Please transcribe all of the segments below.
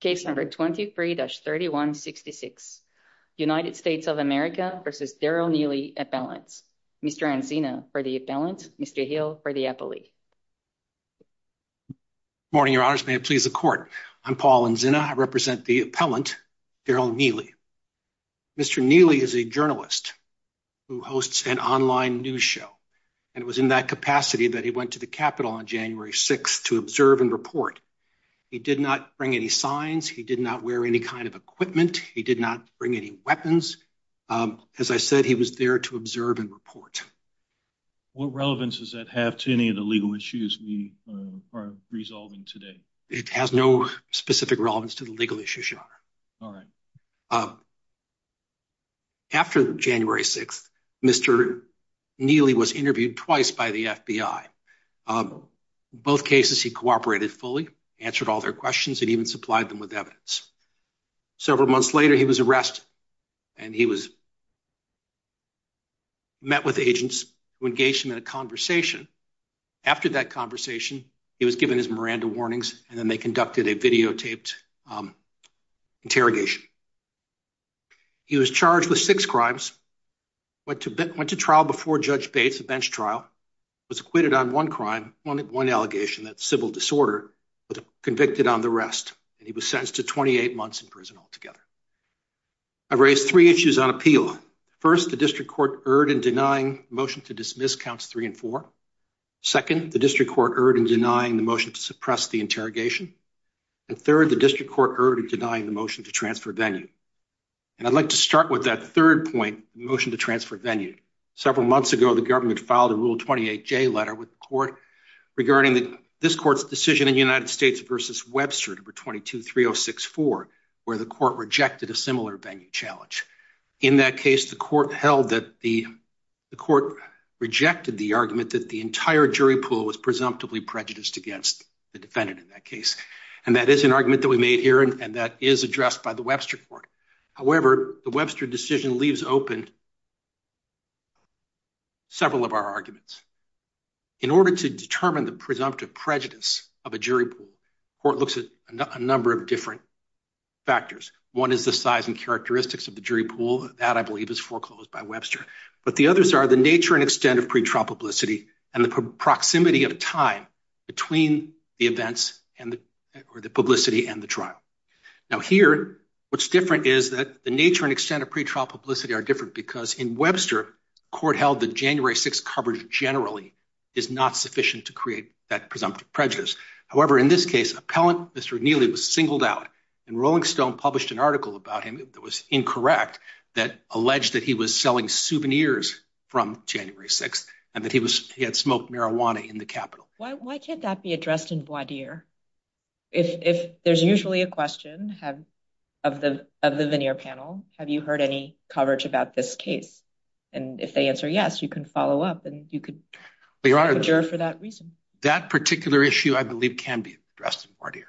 Case number 23-3166. United States of America v. Darrell Neely, appellants. Mr. Anzina for the appellant, Mr. Hill for the appellee. Good morning, Your Honors. May it please the Court. I'm Paul Anzina. I represent the appellant, Darrell Neely. Mr. Neely is a journalist who hosts an online news show and it was in that capacity that he went to the Capitol on January 6th to observe and report. He did not bring any signs. He did not wear any kind of equipment. He did not bring any weapons. As I said, he was there to observe and report. What relevance does that have to any of the legal issues we are resolving today? It has no specific relevance to the legal issues, Your Honor. All right. After January 6th, Mr. Neely was interviewed twice by the FBI. Both cases he cooperated fully, answered all their questions, and even supplied them with evidence. Several months later, he was arrested and he was met with agents who engaged him in a conversation. After that conversation, he was given his Miranda warnings and then they conducted a videotaped interrogation. He was charged with six crimes, went to trial before Judge Bates, a bench trial, was acquitted on one crime, one allegation, that's civil disorder, but convicted on the rest and he was sentenced to 28 months in prison altogether. I've raised three issues on appeal. First, the district court erred in denying motion to dismiss counts three and four. Second, the district court erred in denying the motion to suppress the interrogation. And third, the district court erred in denying the motion to transfer venue. And I'd like to start with that third point, the motion to transfer venue. Several months ago, the court filed a Rule 28J letter with the court regarding that this court's decision in the United States versus Webster, number 22-3064, where the court rejected a similar venue challenge. In that case, the court held that the court rejected the argument that the entire jury pool was presumptively prejudiced against the defendant in that case. And that is an argument that we made here and that is addressed by the Webster Court. However, the Webster decision leaves open several of our arguments. In order to determine the presumptive prejudice of a jury pool, the court looks at a number of different factors. One is the size and characteristics of the jury pool. That, I believe, is foreclosed by Webster. But the others are the nature and extent of pretrial publicity and the proximity of time between the events and the publicity and the trial. Now here, what's different is that the nature and extent of pretrial publicity are different because in Webster, court held that January 6 coverage generally is not sufficient to create that presumptive prejudice. However, in this case, appellant Mr. O'Neilly was singled out and Rolling Stone published an article about him that was incorrect that alleged that he was selling souvenirs from January 6th and that he had smoked marijuana in the Capitol. Why can't that be addressed in voir dire? If there's usually a question have of the of the veneer panel. Have you heard any coverage about this case? And if they answer yes, you can follow up and you could be right here for that reason. That particular issue, I believe, can be addressed in voir dire.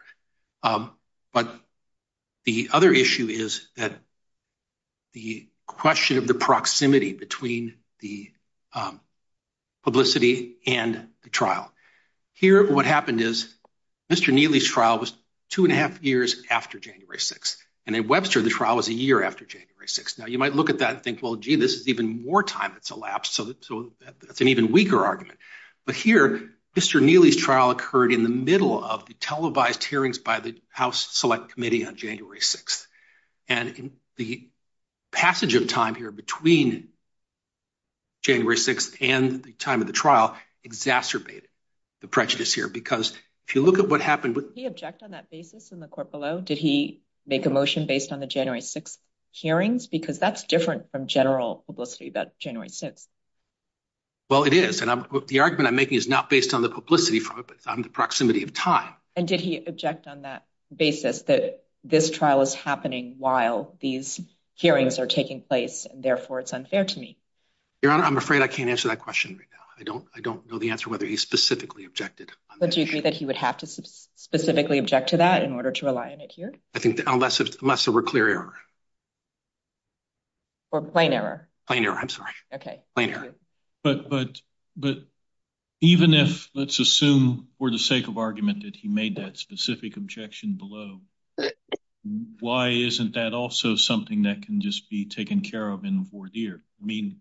Um, but the other issue is that the question of the proximity between the, um, publicity and the trial here, what happened is Mr O'Neilly's trial was two and a half years after January 6th, and in Webster, the trial was a year after January 6th. Now, you might look at that and think, well, gee, this is even more time that's elapsed, so that's an even weaker argument. But here, Mr. O'Neilly's trial occurred in the middle of the televised hearings by the House Select Committee on January 6th, and the passage of time here between January 6th and the time of the trial exacerbated the prejudice here because if you look at what happened with the object on that basis in the court below, did he make a motion based on the January 6 hearings? Because that's different from general publicity about January 6th. Well, it is. And the argument I'm making is not based on the publicity from the proximity of time. And did he object on that basis that this trial is happening while these hearings are taking place? Therefore, it's unfair to me, Your Honor. I'm afraid I can't answer that question. I don't I don't know the answer whether he specifically objected. But do you agree that he would have to specifically object to that in order to rely on it here? I think unless it must have a clear error. Or plain error. Plain error. I'm sorry. Okay. Plain error. But but but even if let's assume for the sake of argument that he made that specific objection below, why isn't that also something that can just be taken care of in or dear? I mean,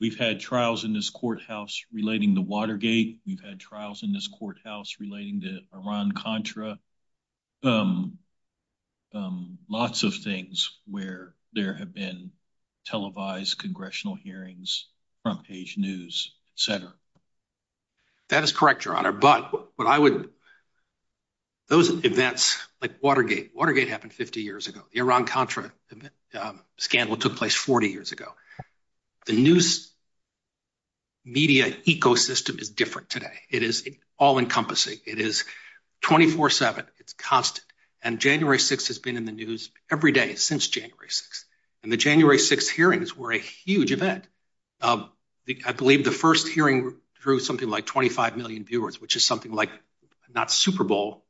we've had trials in this courthouse relating the Watergate. We've had trials in this courthouse relating to Iran Contra. Um, um, lots of things where there have been televised congressional hearings, front page news center. That is correct, Your Honor. But what I would those events like Watergate Watergate happened 50 years ago. The Iran Contra scandal took place 40 years ago. The news media ecosystem is different today. It is all encompassing. It is 24 7. It's constant. And January six has been in the news every day since January six. And the January six hearings were a huge event. Um, I believe the first hearing drew something like 25 million viewers, which is something like not Super Bowl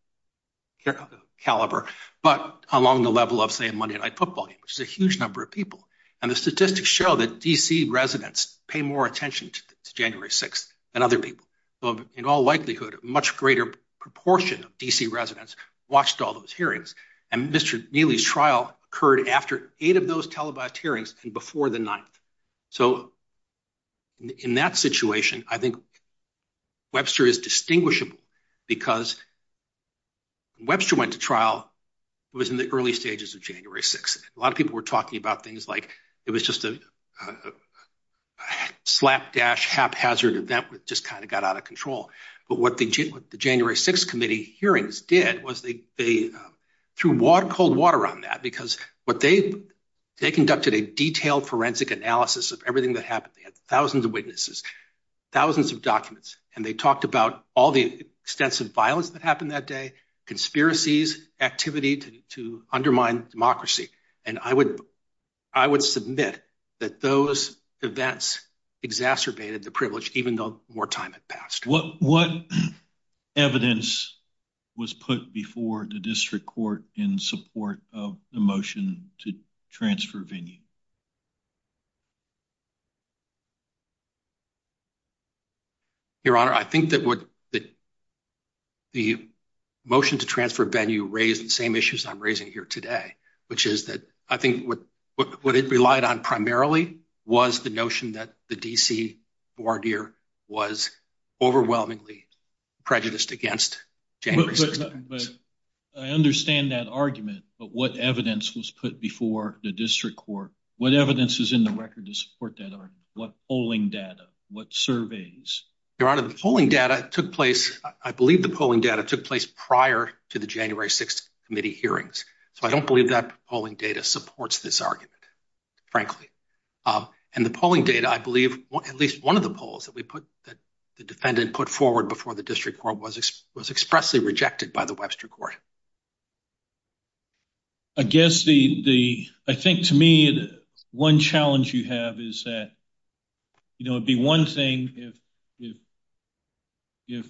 caliber, but along the level of, say, a Monday night football game, which is a huge number of people. And the statistics show that D. C. Residents pay more attention to January six and other people. In all likelihood, much greater proportion of D. C. Residents watched all those hearings. And Mr Neely's trial occurred after eight of those televised hearings and before the ninth. So in that situation, I think Webster is distinguishable because Webster went to trial. It was in the early stages of January six. A lot of people were talking about things like it was just a slapdash haphazard event. Just kind of got out of control. But what they did with the January six committee hearings did was they they threw water cold water on that because what they they conducted a detailed forensic analysis of everything that happened. They had thousands of witnesses, thousands of documents, and they talked about all the extensive violence that happened that day. Conspiracies activity to undermine democracy. And I would I would submit that those events exacerbated the privilege, even though more time had passed. What? What evidence was put before the district court in support of the motion to transfer venue? Your Honor, I think that would that the motion to transfer venue raised the same issues I'm raising here today, which is that I think what what it relied on primarily was the notion that the D. C. Ward here was overwhelmingly prejudiced against. But I understand that argument. But what evidence was put before the district court? What evidence is in the record to support that? What polling data? What surveys your honor? The polling data took place. I believe the polling data took place prior to the January six committee hearings. So I don't believe that polling data supports this argument, frankly. Uh, and the polling data, I believe at least one of the polls that we put that the defendant put forward before the district court was was expressly rejected by the Webster court. I guess the I think to me, one challenge you have is that, you know, be one thing if if if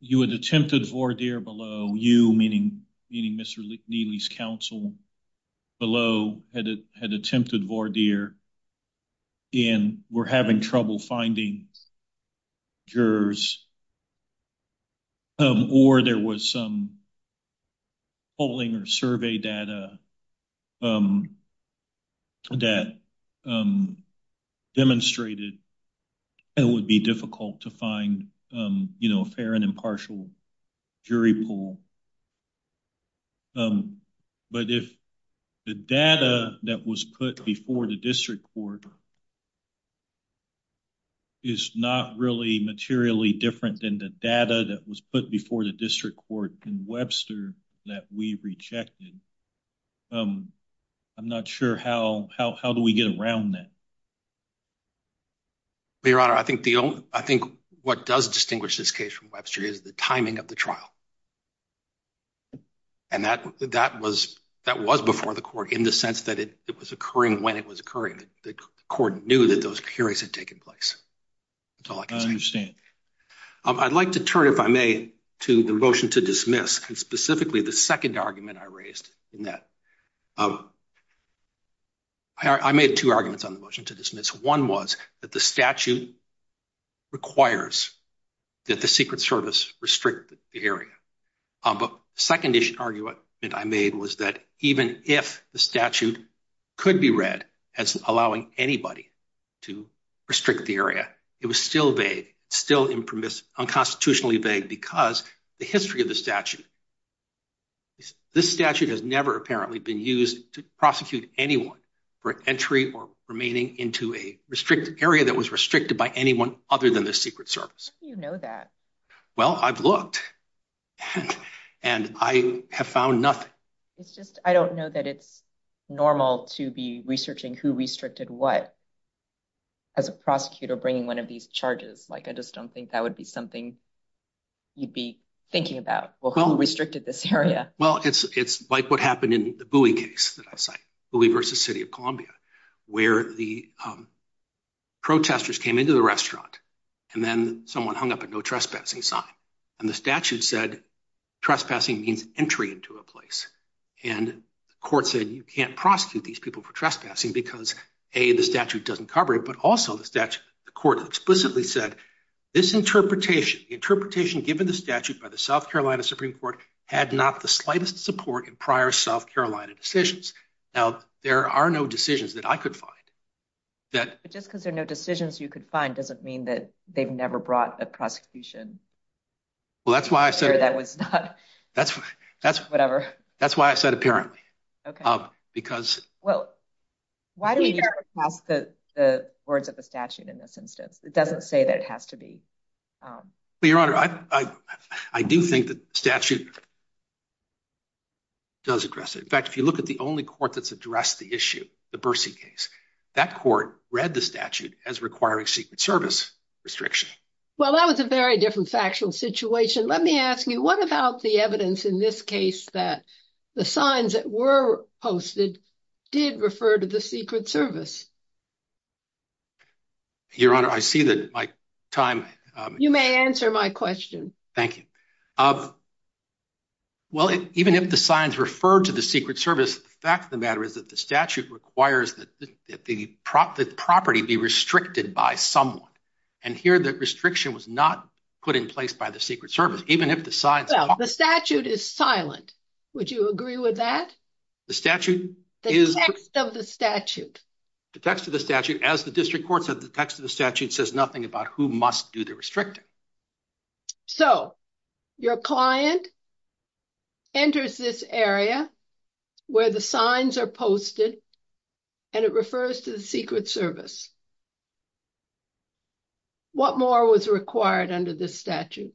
you had attempted for dear below you, meaning meaning Mr Neely's counsel below had attempted for dear and we're having trouble finding jurors. Um, or there was some polling or survey data. Um, that, um, demonstrated it would be difficult to find, you know, a fair and impartial jury pool. Um, but if the data that was put before the district court is not really materially different than the data that was put before the district court in Webster that we rejected. Um, I'm not sure how how how do we get around that? Your honor, I think the only I think what does distinguish this case from Webster is the timing of the trial. And that that was that was before the court in the sense that it was occurring when it was occurring. The court knew that those periods had taken place. That's all I can understand. I'd like to turn if I may to the motion to dismiss and specifically the second argument I raised in that, um, I made two arguments on the motion to dismiss. One was that the statute requires that the Secret Service restrict the area. Um, but second issue argument I made was that even if the statute could be read as allowing anybody to restrict the area, it was still vague, still impermissible, unconstitutionally vague because the history of the statute. This statute has never apparently been used to prosecute anyone for entry or remaining into a restricted area that was restricted by anyone other than the Secret Service. You know that? Well, I've looked and I have found nothing. It's just I don't know that it's normal to be researching who restricted what as a prosecutor bringing one of these charges like I just don't think that would be something you'd be thinking about. Well, who restricted this area? Well, it's it's like what happened in the Bowie case that I cite, Bowie versus City of Columbia, where the protesters came into the restaurant and then someone hung up a no trespassing sign and the statute said trespassing means entry into a place and the court said you can't prosecute these people for trespassing because A, the statute doesn't cover it. But also the statute, the court explicitly said this interpretation, interpretation given the statute by the South Carolina Supreme Court had not the slightest support in prior South Carolina decisions. Now, there are no decisions that I could find that just because there are no decisions you could find doesn't mean that they've never brought a prosecution. Well, that's why I said that was not that's that's whatever. That's why I said apparently because well, why do we ask the words of the statute in this instance? It doesn't say that it has to be your honor. I do think that statute does address it. In fact, if you look at the only court that's addressed the issue, the Bursey case, that court read the statute as requiring Secret Service restriction. Well, that was a very different factual situation. Let me ask you. What about the evidence in this case that the signs that were posted did refer to the Secret Service? Your honor, I see that my time. You may answer my question. Thank you. Well, even if the signs referred to the Secret Service, the fact of the matter is that the statute requires that the property be restricted by someone and here that restriction was not put in place by the Secret Service, even if the signs. The statute is silent. Would you agree with that? The statute is of the statute. The text of the statute as the district court said the text of the restricted. So your client enters this area where the signs are posted and it refers to the Secret Service. What more was required under this statute?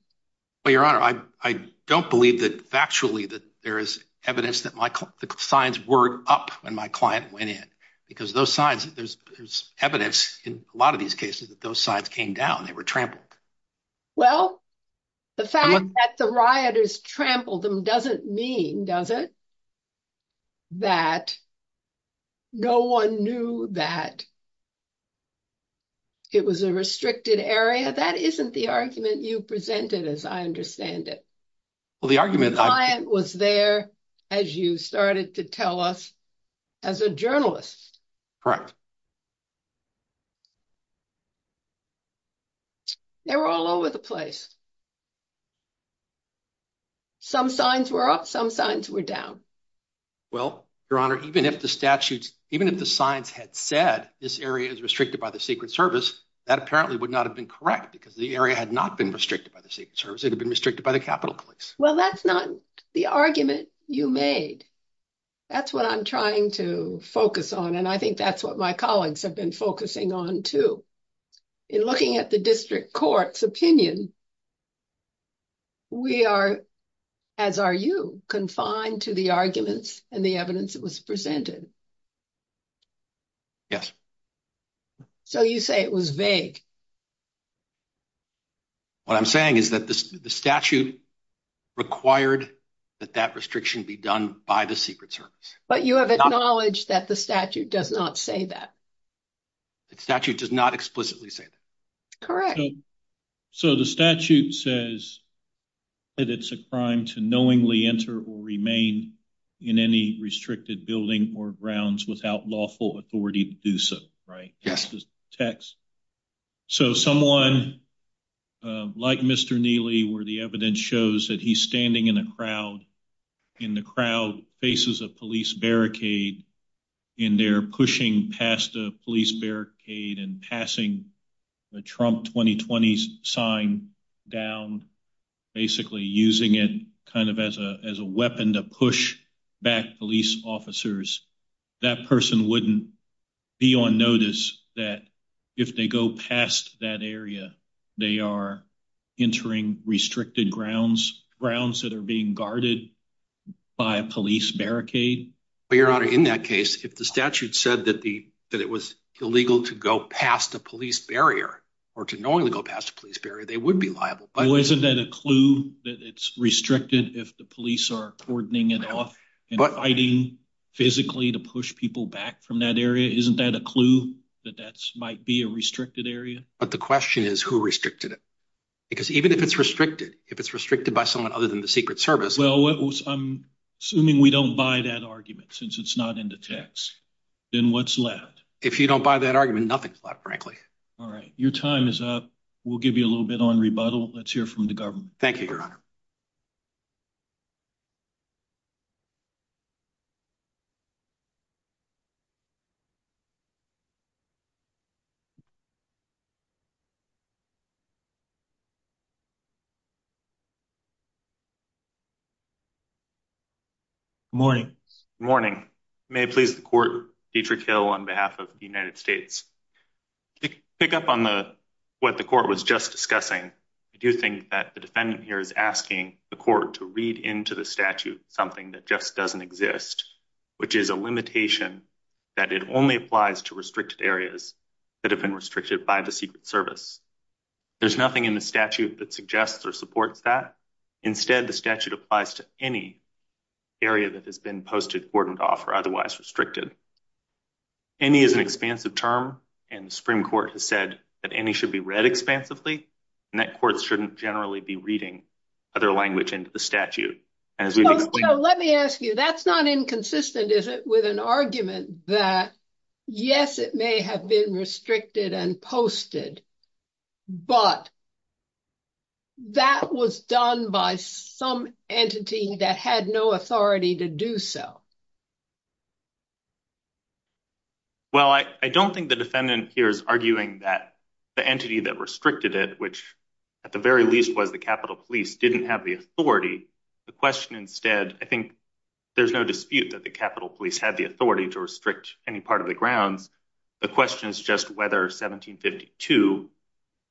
Well, your honor, I don't believe that factually that there is evidence that my signs were up when my client went in because those signs that there's evidence in a lot of these cases that those signs came down. They were trampled. Well, the fact that the rioters trampled them doesn't mean does it? That no one knew that. It was a restricted area. That isn't the argument you presented as I understand it. Well, the argument was there as you started to tell us as a journalist. Correct. They were all over the place. Some signs were up, some signs were down. Well, your honor, even if the statutes, even if the signs had said this area is restricted by the Secret Service, that apparently would not have been correct because the area had not been restricted by the Secret Service. It had been restricted by the Capitol Police. Well, that's not the argument you made. That's what I'm trying to focus on. And I think that's what my colleagues have been focusing on too. In looking at the district court's opinion, we are, as are you, confined to the arguments and the evidence that was presented. Yes. So you say it was vague. What I'm saying is that the statute required that that restriction be done by the Secret Service. But you have acknowledged that the statute does not say that. The statute does not explicitly say that. So the statute says that it's a crime to knowingly enter or remain in any restricted building or grounds without lawful authority to do so, right? Yes. Text. So someone like Mr. Neely, where the evidence shows that he's standing in a crowd and the crowd faces a police barricade and they're pushing past a police barricade and passing the Trump 2020 sign down, basically using it kind of as a weapon to push back police officers, that person wouldn't be on notice that if they go past that area, they are entering restricted grounds, grounds that are being guarded by a police barricade. Your Honor, in that case, if the statute said that it was illegal to go past a police barrier or to knowingly go past a police barrier, they would be liable. But isn't that a clue that it's restricted if the police are cordoning it off and fighting physically to push people back from that area? Isn't that a clue that that might be a restricted area? But the question is who restricted it? Because even if it's restricted, if it's restricted by someone other than the Secret Service. Well, I'm assuming we don't buy that argument since it's not in the text. Then what's left? If you don't buy that argument, nothing's left, frankly. All right, your time is up. We'll give you a little bit on rebuttal. Let's hear from the government. Thank you, Your Honor. Good morning. Good morning. May it please the Court, Dietrich Hill on behalf of the United States. To pick up on the what the Court was just discussing, I do think that the defendant here is asking the Court to read into the statute something that just doesn't exist, which is a limitation that it only applies to restricted areas that have been restricted by the Secret Service. There's nothing in the statute that says that the court is not in a statute that suggests or supports that. Instead, the statute applies to any area that has been posted, cordoned off, or otherwise restricted. Any is an expansive term, and the Supreme Court has said that any should be read expansively, and that courts shouldn't generally be reading other language into the statute. Let me ask you. That's not inconsistent, is it, with an argument that, yes, it may have been restricted and posted, but that was done by some entity that had no authority to do so. Well, I don't think the defendant here is arguing that the entity that restricted it, which at the very least was the Capitol Police, didn't have the authority. The question instead, I think there's no dispute that the Capitol Police had the authority to restrict any part of the grounds. The question is just whether 1752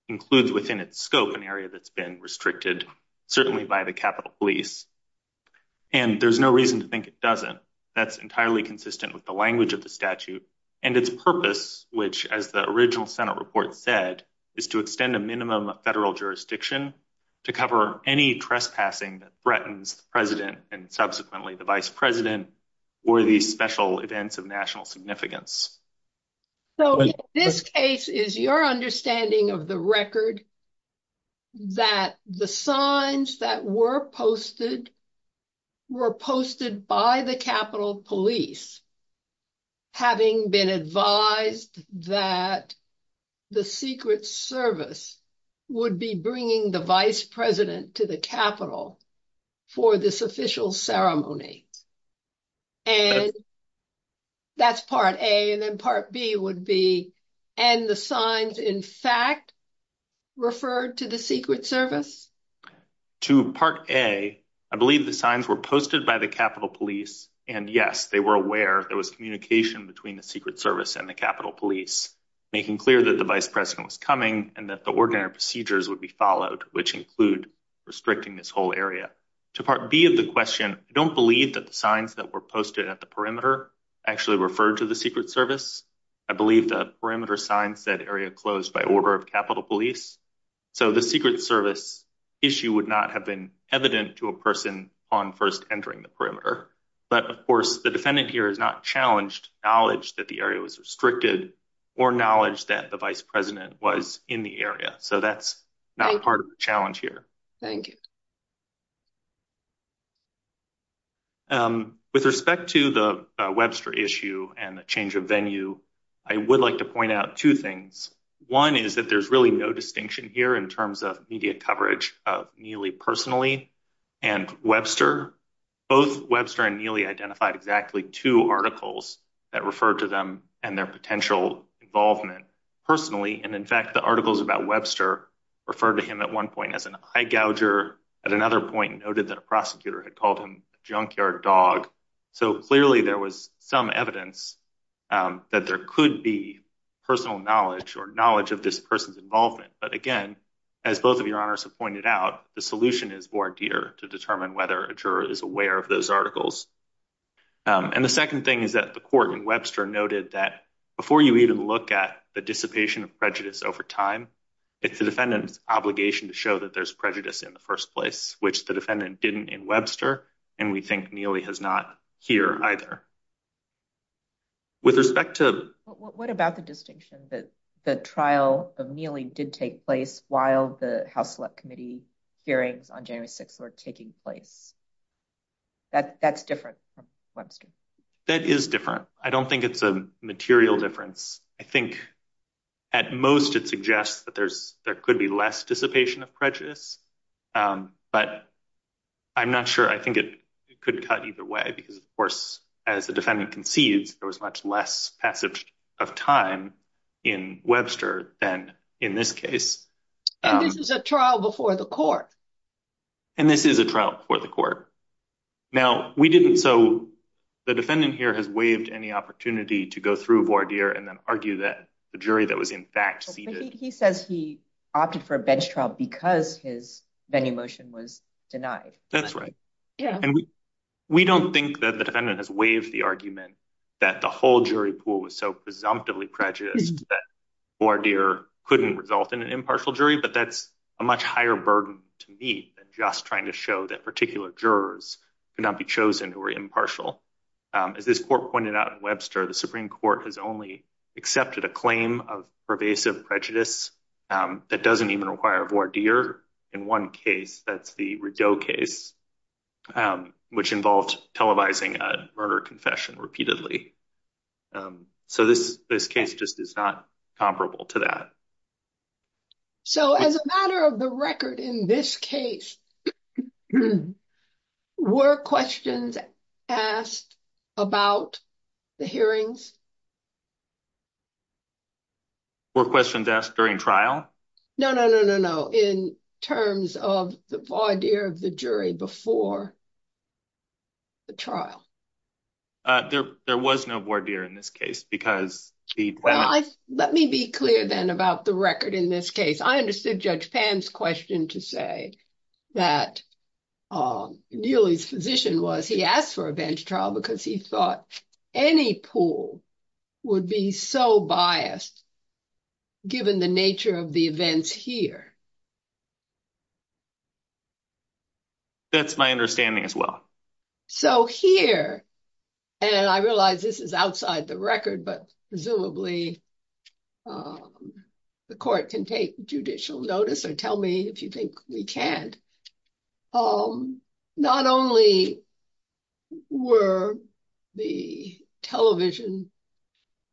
includes within its scope an area that's been restricted, certainly by the Capitol Police. And there's no reason to think it doesn't. That's entirely consistent with the language of the statute and its purpose, which, as the original Senate report said, is to extend a minimum of federal jurisdiction to cover any trespassing that threatens the president and subsequently the vice president or these special events of national significance. So this case is your understanding of the record that the signs that were posted were posted by the Capitol Police, having been advised that the Secret Service would be bringing the vice president to the Capitol for this official ceremony. And that's part A. And then part B would be, and the signs in fact referred to the Secret Service? To part A, I believe the signs were posted by the Capitol Police. And yes, they were aware there was communication between the Secret Service and the Capitol Police, making clear that the vice president was coming and that the ordinary procedures would be followed, which include restricting this whole area. To part B of the question, I don't believe that the signs that were posted at the perimeter actually referred to the Secret Service. I believe the perimeter sign said area closed by order of Capitol Police. So the Secret Service issue would not have been evident to a person upon first entering the perimeter. But of course, the defendant here has not challenged knowledge that the area was restricted or knowledge that the vice president was in the area. So that's not part of the challenge here. Thank you. With respect to the Webster issue and the change of venue, I would like to point out two things. One is that there's really no distinction here in terms of media coverage of Neely personally and Webster. Both Webster and Neely identified exactly two articles that refer to them and their potential involvement personally. And in fact, the articles about Webster referred to him at one point as an eye gouger, at another point noted that Webster was that a prosecutor had called him junkyard dog. So clearly there was some evidence that there could be personal knowledge or knowledge of this person's involvement. But again, as both of your honors have pointed out, the solution is more dear to determine whether a juror is aware of those articles. And the second thing is that the court in Webster noted that before you even look at the dissipation of prejudice over time, it's the defendant's obligation to show that there's prejudice in the first place, which the defendant didn't in Webster. And we think Neely has not here either. With respect to what about the distinction that the trial of Neely did take place while the House Select Committee hearings on January 6th were taking place. That's different from Webster. That is different. I don't think it's a material difference. I think at most it suggests that there's there could be less dissipation of prejudice, but I'm not sure I think it could cut either way because of course as the defendant concedes there was much less passage of time in Webster than in this case. And this is a trial before the court. And this is a trial before the court. Now we didn't so the defendant here has waived any opportunity to go through voir dire and then argue that the jury that was in fact seated. He says he opted for a bench trial because his venue motion was denied. That's right. Yeah, and we don't think that the defendant has waived the argument that the whole jury pool was so presumptively prejudiced that voir dire couldn't result in an impartial jury, but that's a much higher burden to me than just trying to show that particular jurors could not be chosen who were impartial. As this court pointed out in Webster, the Supreme Court has only accepted a claim of pervasive prejudice that doesn't even require voir dire. In one case, that's the Rideau case, which involved televising a murder confession repeatedly. So this case just is not comparable to that. So as a matter of the record in this case, were questions asked about the hearings? Were questions asked during trial? No, no, no, no, no, in terms of the voir dire of the jury before the trial. There was no voir dire in this case because the- Well, let me be clear then about the record in this case. I understood Judge Pan's question to say that Neely's physician was- he asked for a bench trial because he thought any pool would be so biased given the nature of the events here. That's my understanding as well. So here, and I realize this is outside the record, but presumably the court can take judicial notice or tell me if you think we can't. Not only were the television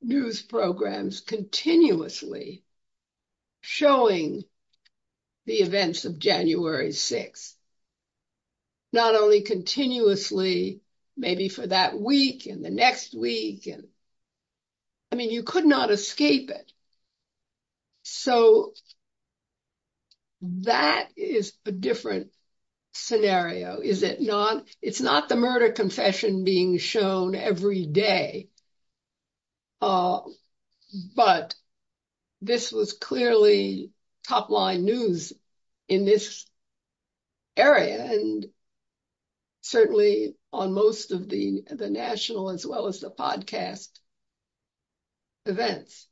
news programs continuously showing the events of January 6, not only continuously, maybe for that week and the next week. And I mean, you could not escape it. So that is a different scenario. Is it not? It's not the murder confession being shown every day. But this was clearly top-line news in this area and certainly on most of the national as well as the podcast events.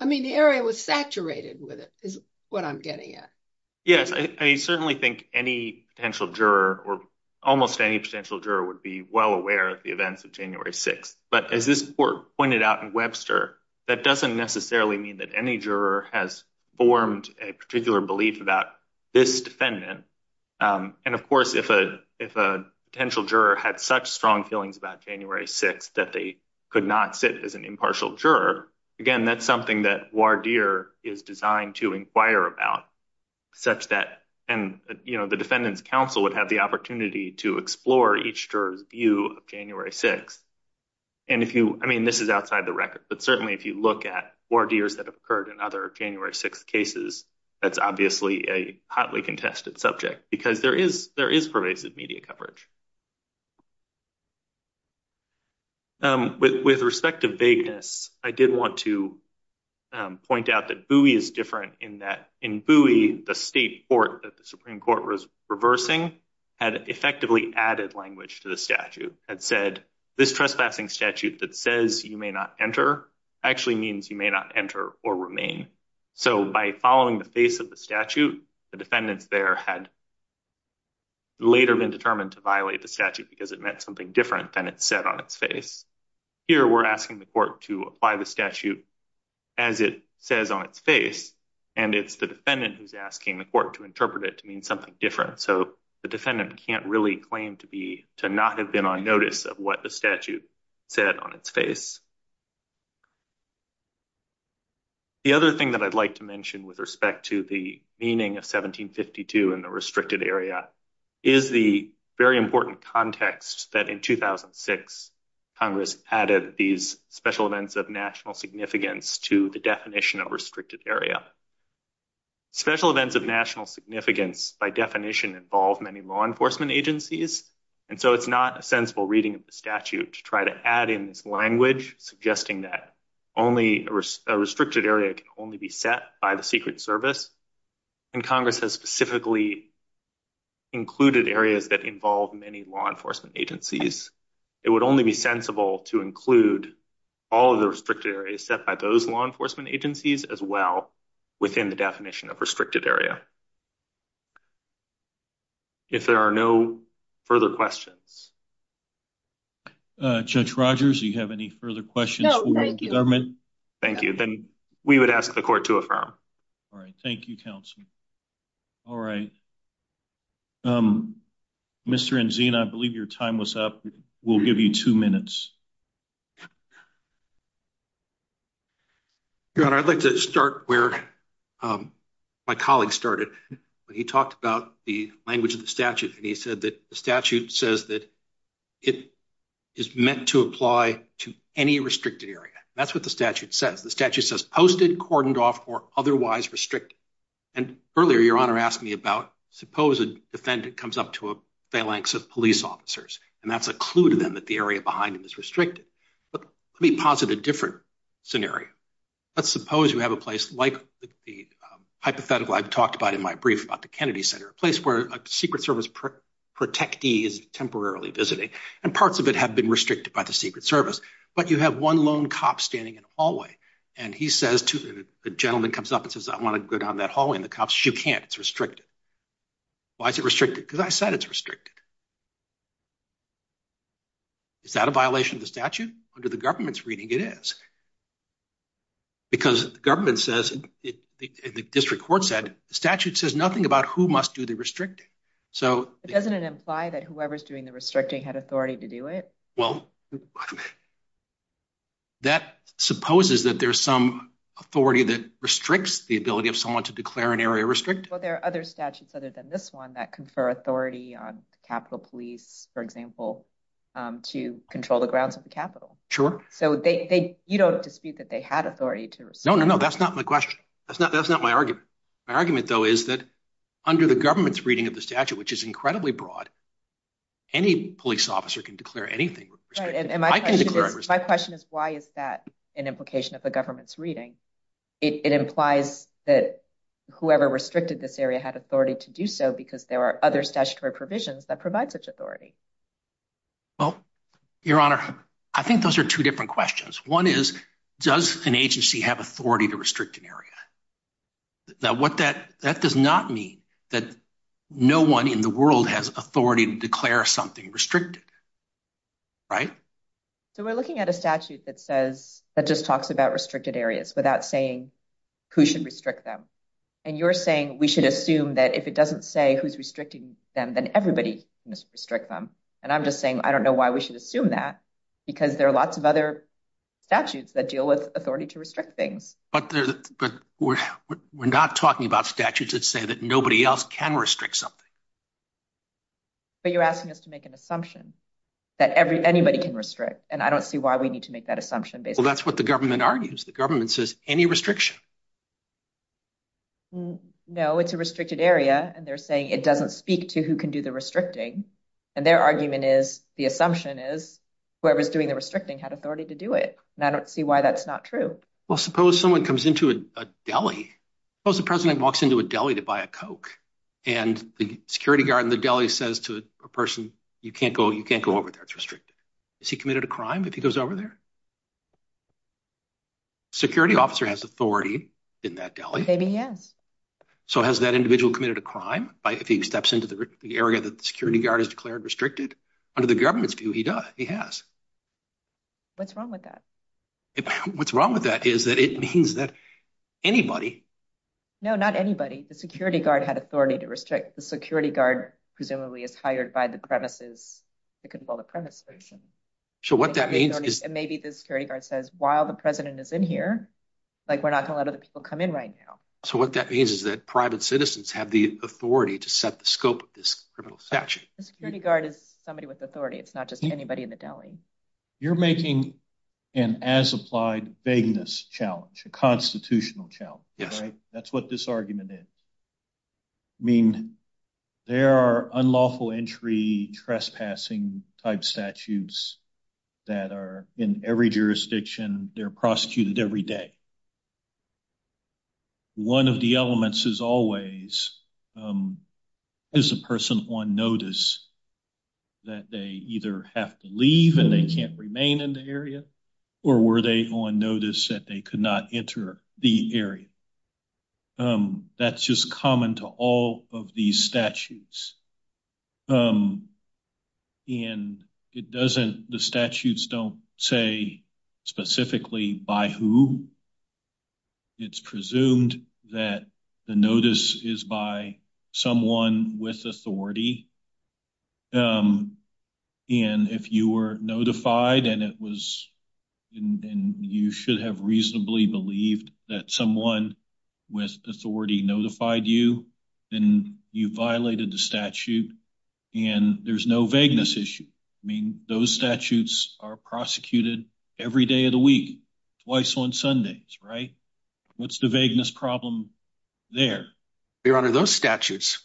I mean, the area was saturated with it is what I'm getting at. Yes. I certainly think any potential juror or almost any potential juror would be well aware of the events of January 6. But as this court pointed out in Webster, that doesn't necessarily mean that any juror has formed a particular belief about this defendant. And of course, if a potential juror had such strong feelings about January 6 that they could not sit as an impartial juror, again, that's something that Wardeer is designed to inquire about such that and, you know, the Defendant's Counsel would have the opportunity to explore each juror's view of January 6. And if you, I mean, this is outside the record, but certainly if you look at Wardeers that have occurred in other January 6 cases, that's obviously a hotly contested subject because there is pervasive media coverage. With respect to vagueness, I did want to point out that Bowie is different in that in Bowie, the state court that the Supreme Court was reversing had effectively added language to the statute. It said this trespassing statute that says you may not enter actually means you may not enter or remain. So by following the face of the statute, the defendants there had later been determined to violate the statute because it meant something different than it said on its face. Here, we're asking the court to apply the statute as it says on its face and it's the defendant who's asking the court to interpret it to mean something different. So the defendant can't really claim to be, to not have been on notice of what the statute said on its face. The other thing that I'd like to mention with respect to the meaning of 1752 in the restricted area is the very important context that in 2006, Congress added these special events of national significance to the definition of restricted area. Special events of national significance by definition involve many law enforcement agencies. And so it's not a sensible reading of the statute to try to add in this language suggesting that only a restricted area can only be set by the Secret Service and Congress has specifically included areas that involve many law enforcement agencies. It would only be sensible to include all of the restricted areas set by those law enforcement agencies as well within the definition of restricted area. If there are no further questions. Judge Rogers, do you have any further questions for the government? Thank you. Then we would ask the court to affirm. All right. Thank you, counsel. All right. Mr. Enzina, I believe your time was up. We'll give you two minutes. Your Honor, I'd like to start where my colleague started when he talked about the language of the statute and he said that the statute says that it is meant to apply to any restricted area. That's what the statute says. The statute says posted, cordoned off, or otherwise restricted. And earlier, your Honor asked me about suppose a defendant comes up to a phalanx of police officers and that's a clue to them that the area behind him is restricted. But let me posit a different scenario. Let's suppose you have a place like the hypothetical I've talked about in my brief about the Kennedy Center, a place where a Secret Service protectee is temporarily visiting and parts of it have been restricted by the Secret Service, but you have one lone cop standing in a hallway and he says to the gentleman comes up and says, I want to go down that hallway and the cop says, you can't, it's restricted. Why is it restricted? Because I said it's restricted. Is that a violation of the statute? Under the government's reading, it is. Because the government says, the district court said, the statute says nothing about who must do the restricting. So doesn't it imply that whoever's doing the restricting had authority to do it? Well, that supposes that there's some authority that restricts the ability of someone to declare an area restricted. Well, there are other statutes other than this one that confer authority on Capitol Police, for example, to control the grounds of the Capitol. Sure. So you don't dispute that they had authority to restrict? No, no, no, that's not my question. That's not my argument. My argument though is that under the government's reading of the statute, which is incredibly broad, any police officer can declare anything restricted. And my question is, why is that an implication of the government's reading? It implies that whoever restricted this area had authority to do so because there are other statutory provisions that provide such authority. Well, Your Honor, I think those are two different questions. One is, does an agency have authority to restrict an area? Now, what that does not mean that no one in the world has authority to declare something restricted. Right? So we're looking at a statute that says, that just talks about restricted areas without saying who should restrict them. And you're saying we should assume that if it doesn't say who's restricting them, then everybody must restrict them. And I'm just saying, I don't know why we should assume that because there are lots of other statutes that deal with authority to restrict things. But we're not talking about statutes that say that nobody else can restrict something. But you're asking us to make an assumption that anybody can restrict, and I don't see why we need to make that assumption. Well, that's what the government argues. The government says, any restriction. No, it's a restricted area, and they're saying it doesn't speak to who can do the restricting. And their argument is, the assumption is, whoever's doing the restricting had authority to do it. And I don't see why that's not true. Well, suppose someone comes into a deli. Suppose the president walks into a deli to buy a Coke, and the security guard in the deli says to a person, you can't go over there, it's restricted. Is he committed a crime if he goes over there? Security officer has authority in that deli. Maybe he has. So has that individual committed a crime if he steps into the area that the security guard has declared restricted? Under the government's view, he does. He has. What's wrong with that? What's wrong with that is that it means that anybody... No, not anybody. The security guard had authority to restrict. The security guard presumably is hired by the premises. I couldn't call the premises. So what that means is... Maybe the security guard says, while the president is in here, like, we're not going to let other people come in right now. So what that means is that private citizens have the authority to set the scope of this criminal statute. The security guard is somebody with authority. It's not just anybody in the deli. You're making an as-applied vagueness challenge, a constitutional challenge, right? That's what this argument is. I mean, there are unlawful entry trespassing type statutes that are in every jurisdiction. They're prosecuted every day. One of the elements is always, is the person on notice that they either have to leave and they can't remain in the area, or were they on notice that they could not enter the area? That's just common to all of these statutes. And it doesn't, the statutes don't say specifically by who. It's presumed that the notice is by someone with authority. And if you were notified and it was, and you should have reasonably believed that someone with authority notified you, then you violated the statute and there's no vagueness issue. I mean, those statutes are prosecuted every day of the week, twice on Sundays, right? What's the vagueness problem there? Your Honor, those statutes,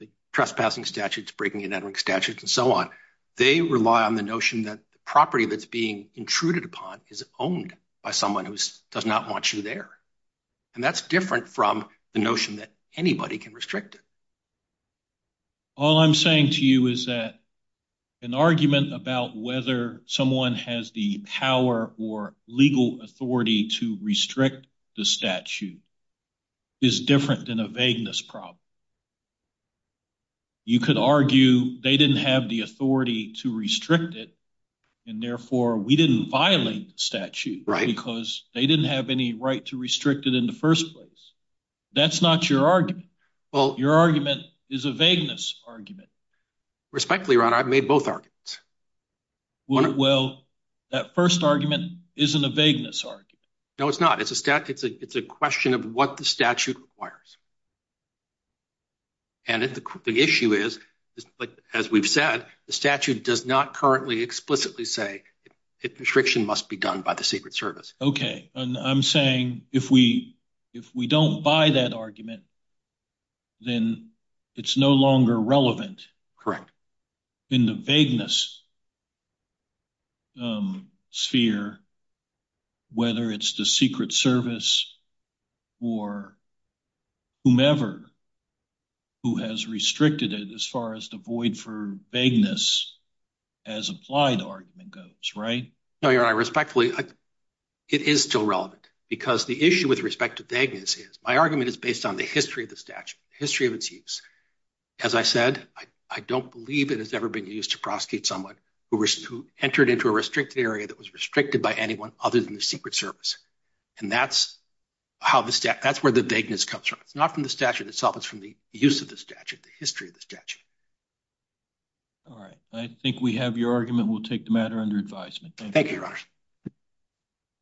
the trespassing statutes, breaking and entering statutes, and so on, they rely on the notion that the property that's being intruded upon is owned by someone who does not want you there. And that's different from the notion that anybody can restrict it. All I'm saying to you is that an argument about whether someone has the power or legal authority to restrict the statute is different than a vagueness problem. You could argue they didn't have the authority to restrict it and therefore we didn't violate the statute because they didn't have any right to restrict it in the first place. That's not your argument. Well, your argument is a vagueness argument. Respectfully, Your Honor, I've made both arguments. Well, that first argument isn't a vagueness argument. No, it's not. It's a question of what the statute requires. And the issue is, as we've said, the statute does not currently explicitly say that restriction must be done by the Secret Service. Okay. And I'm saying if we don't buy that argument, then it's no longer relevant. In the vagueness sphere, whether it's the Secret Service or whomever who has restricted it as far as the void for vagueness as applied argument goes, right? No, Your Honor. Respectfully, it is still relevant because the issue with respect to vagueness is my argument is based on the history of the statute, history of its use. As I said, I don't believe it has ever been used to prosecute someone who entered into a restricted area that was restricted by anyone other than the Secret Service. And that's where the vagueness comes from. It's not from the statute itself. It's from the use of the statute, the history of the statute. All right. I think we have your argument. We'll take the matter under advisement. Thank you, Your Honor.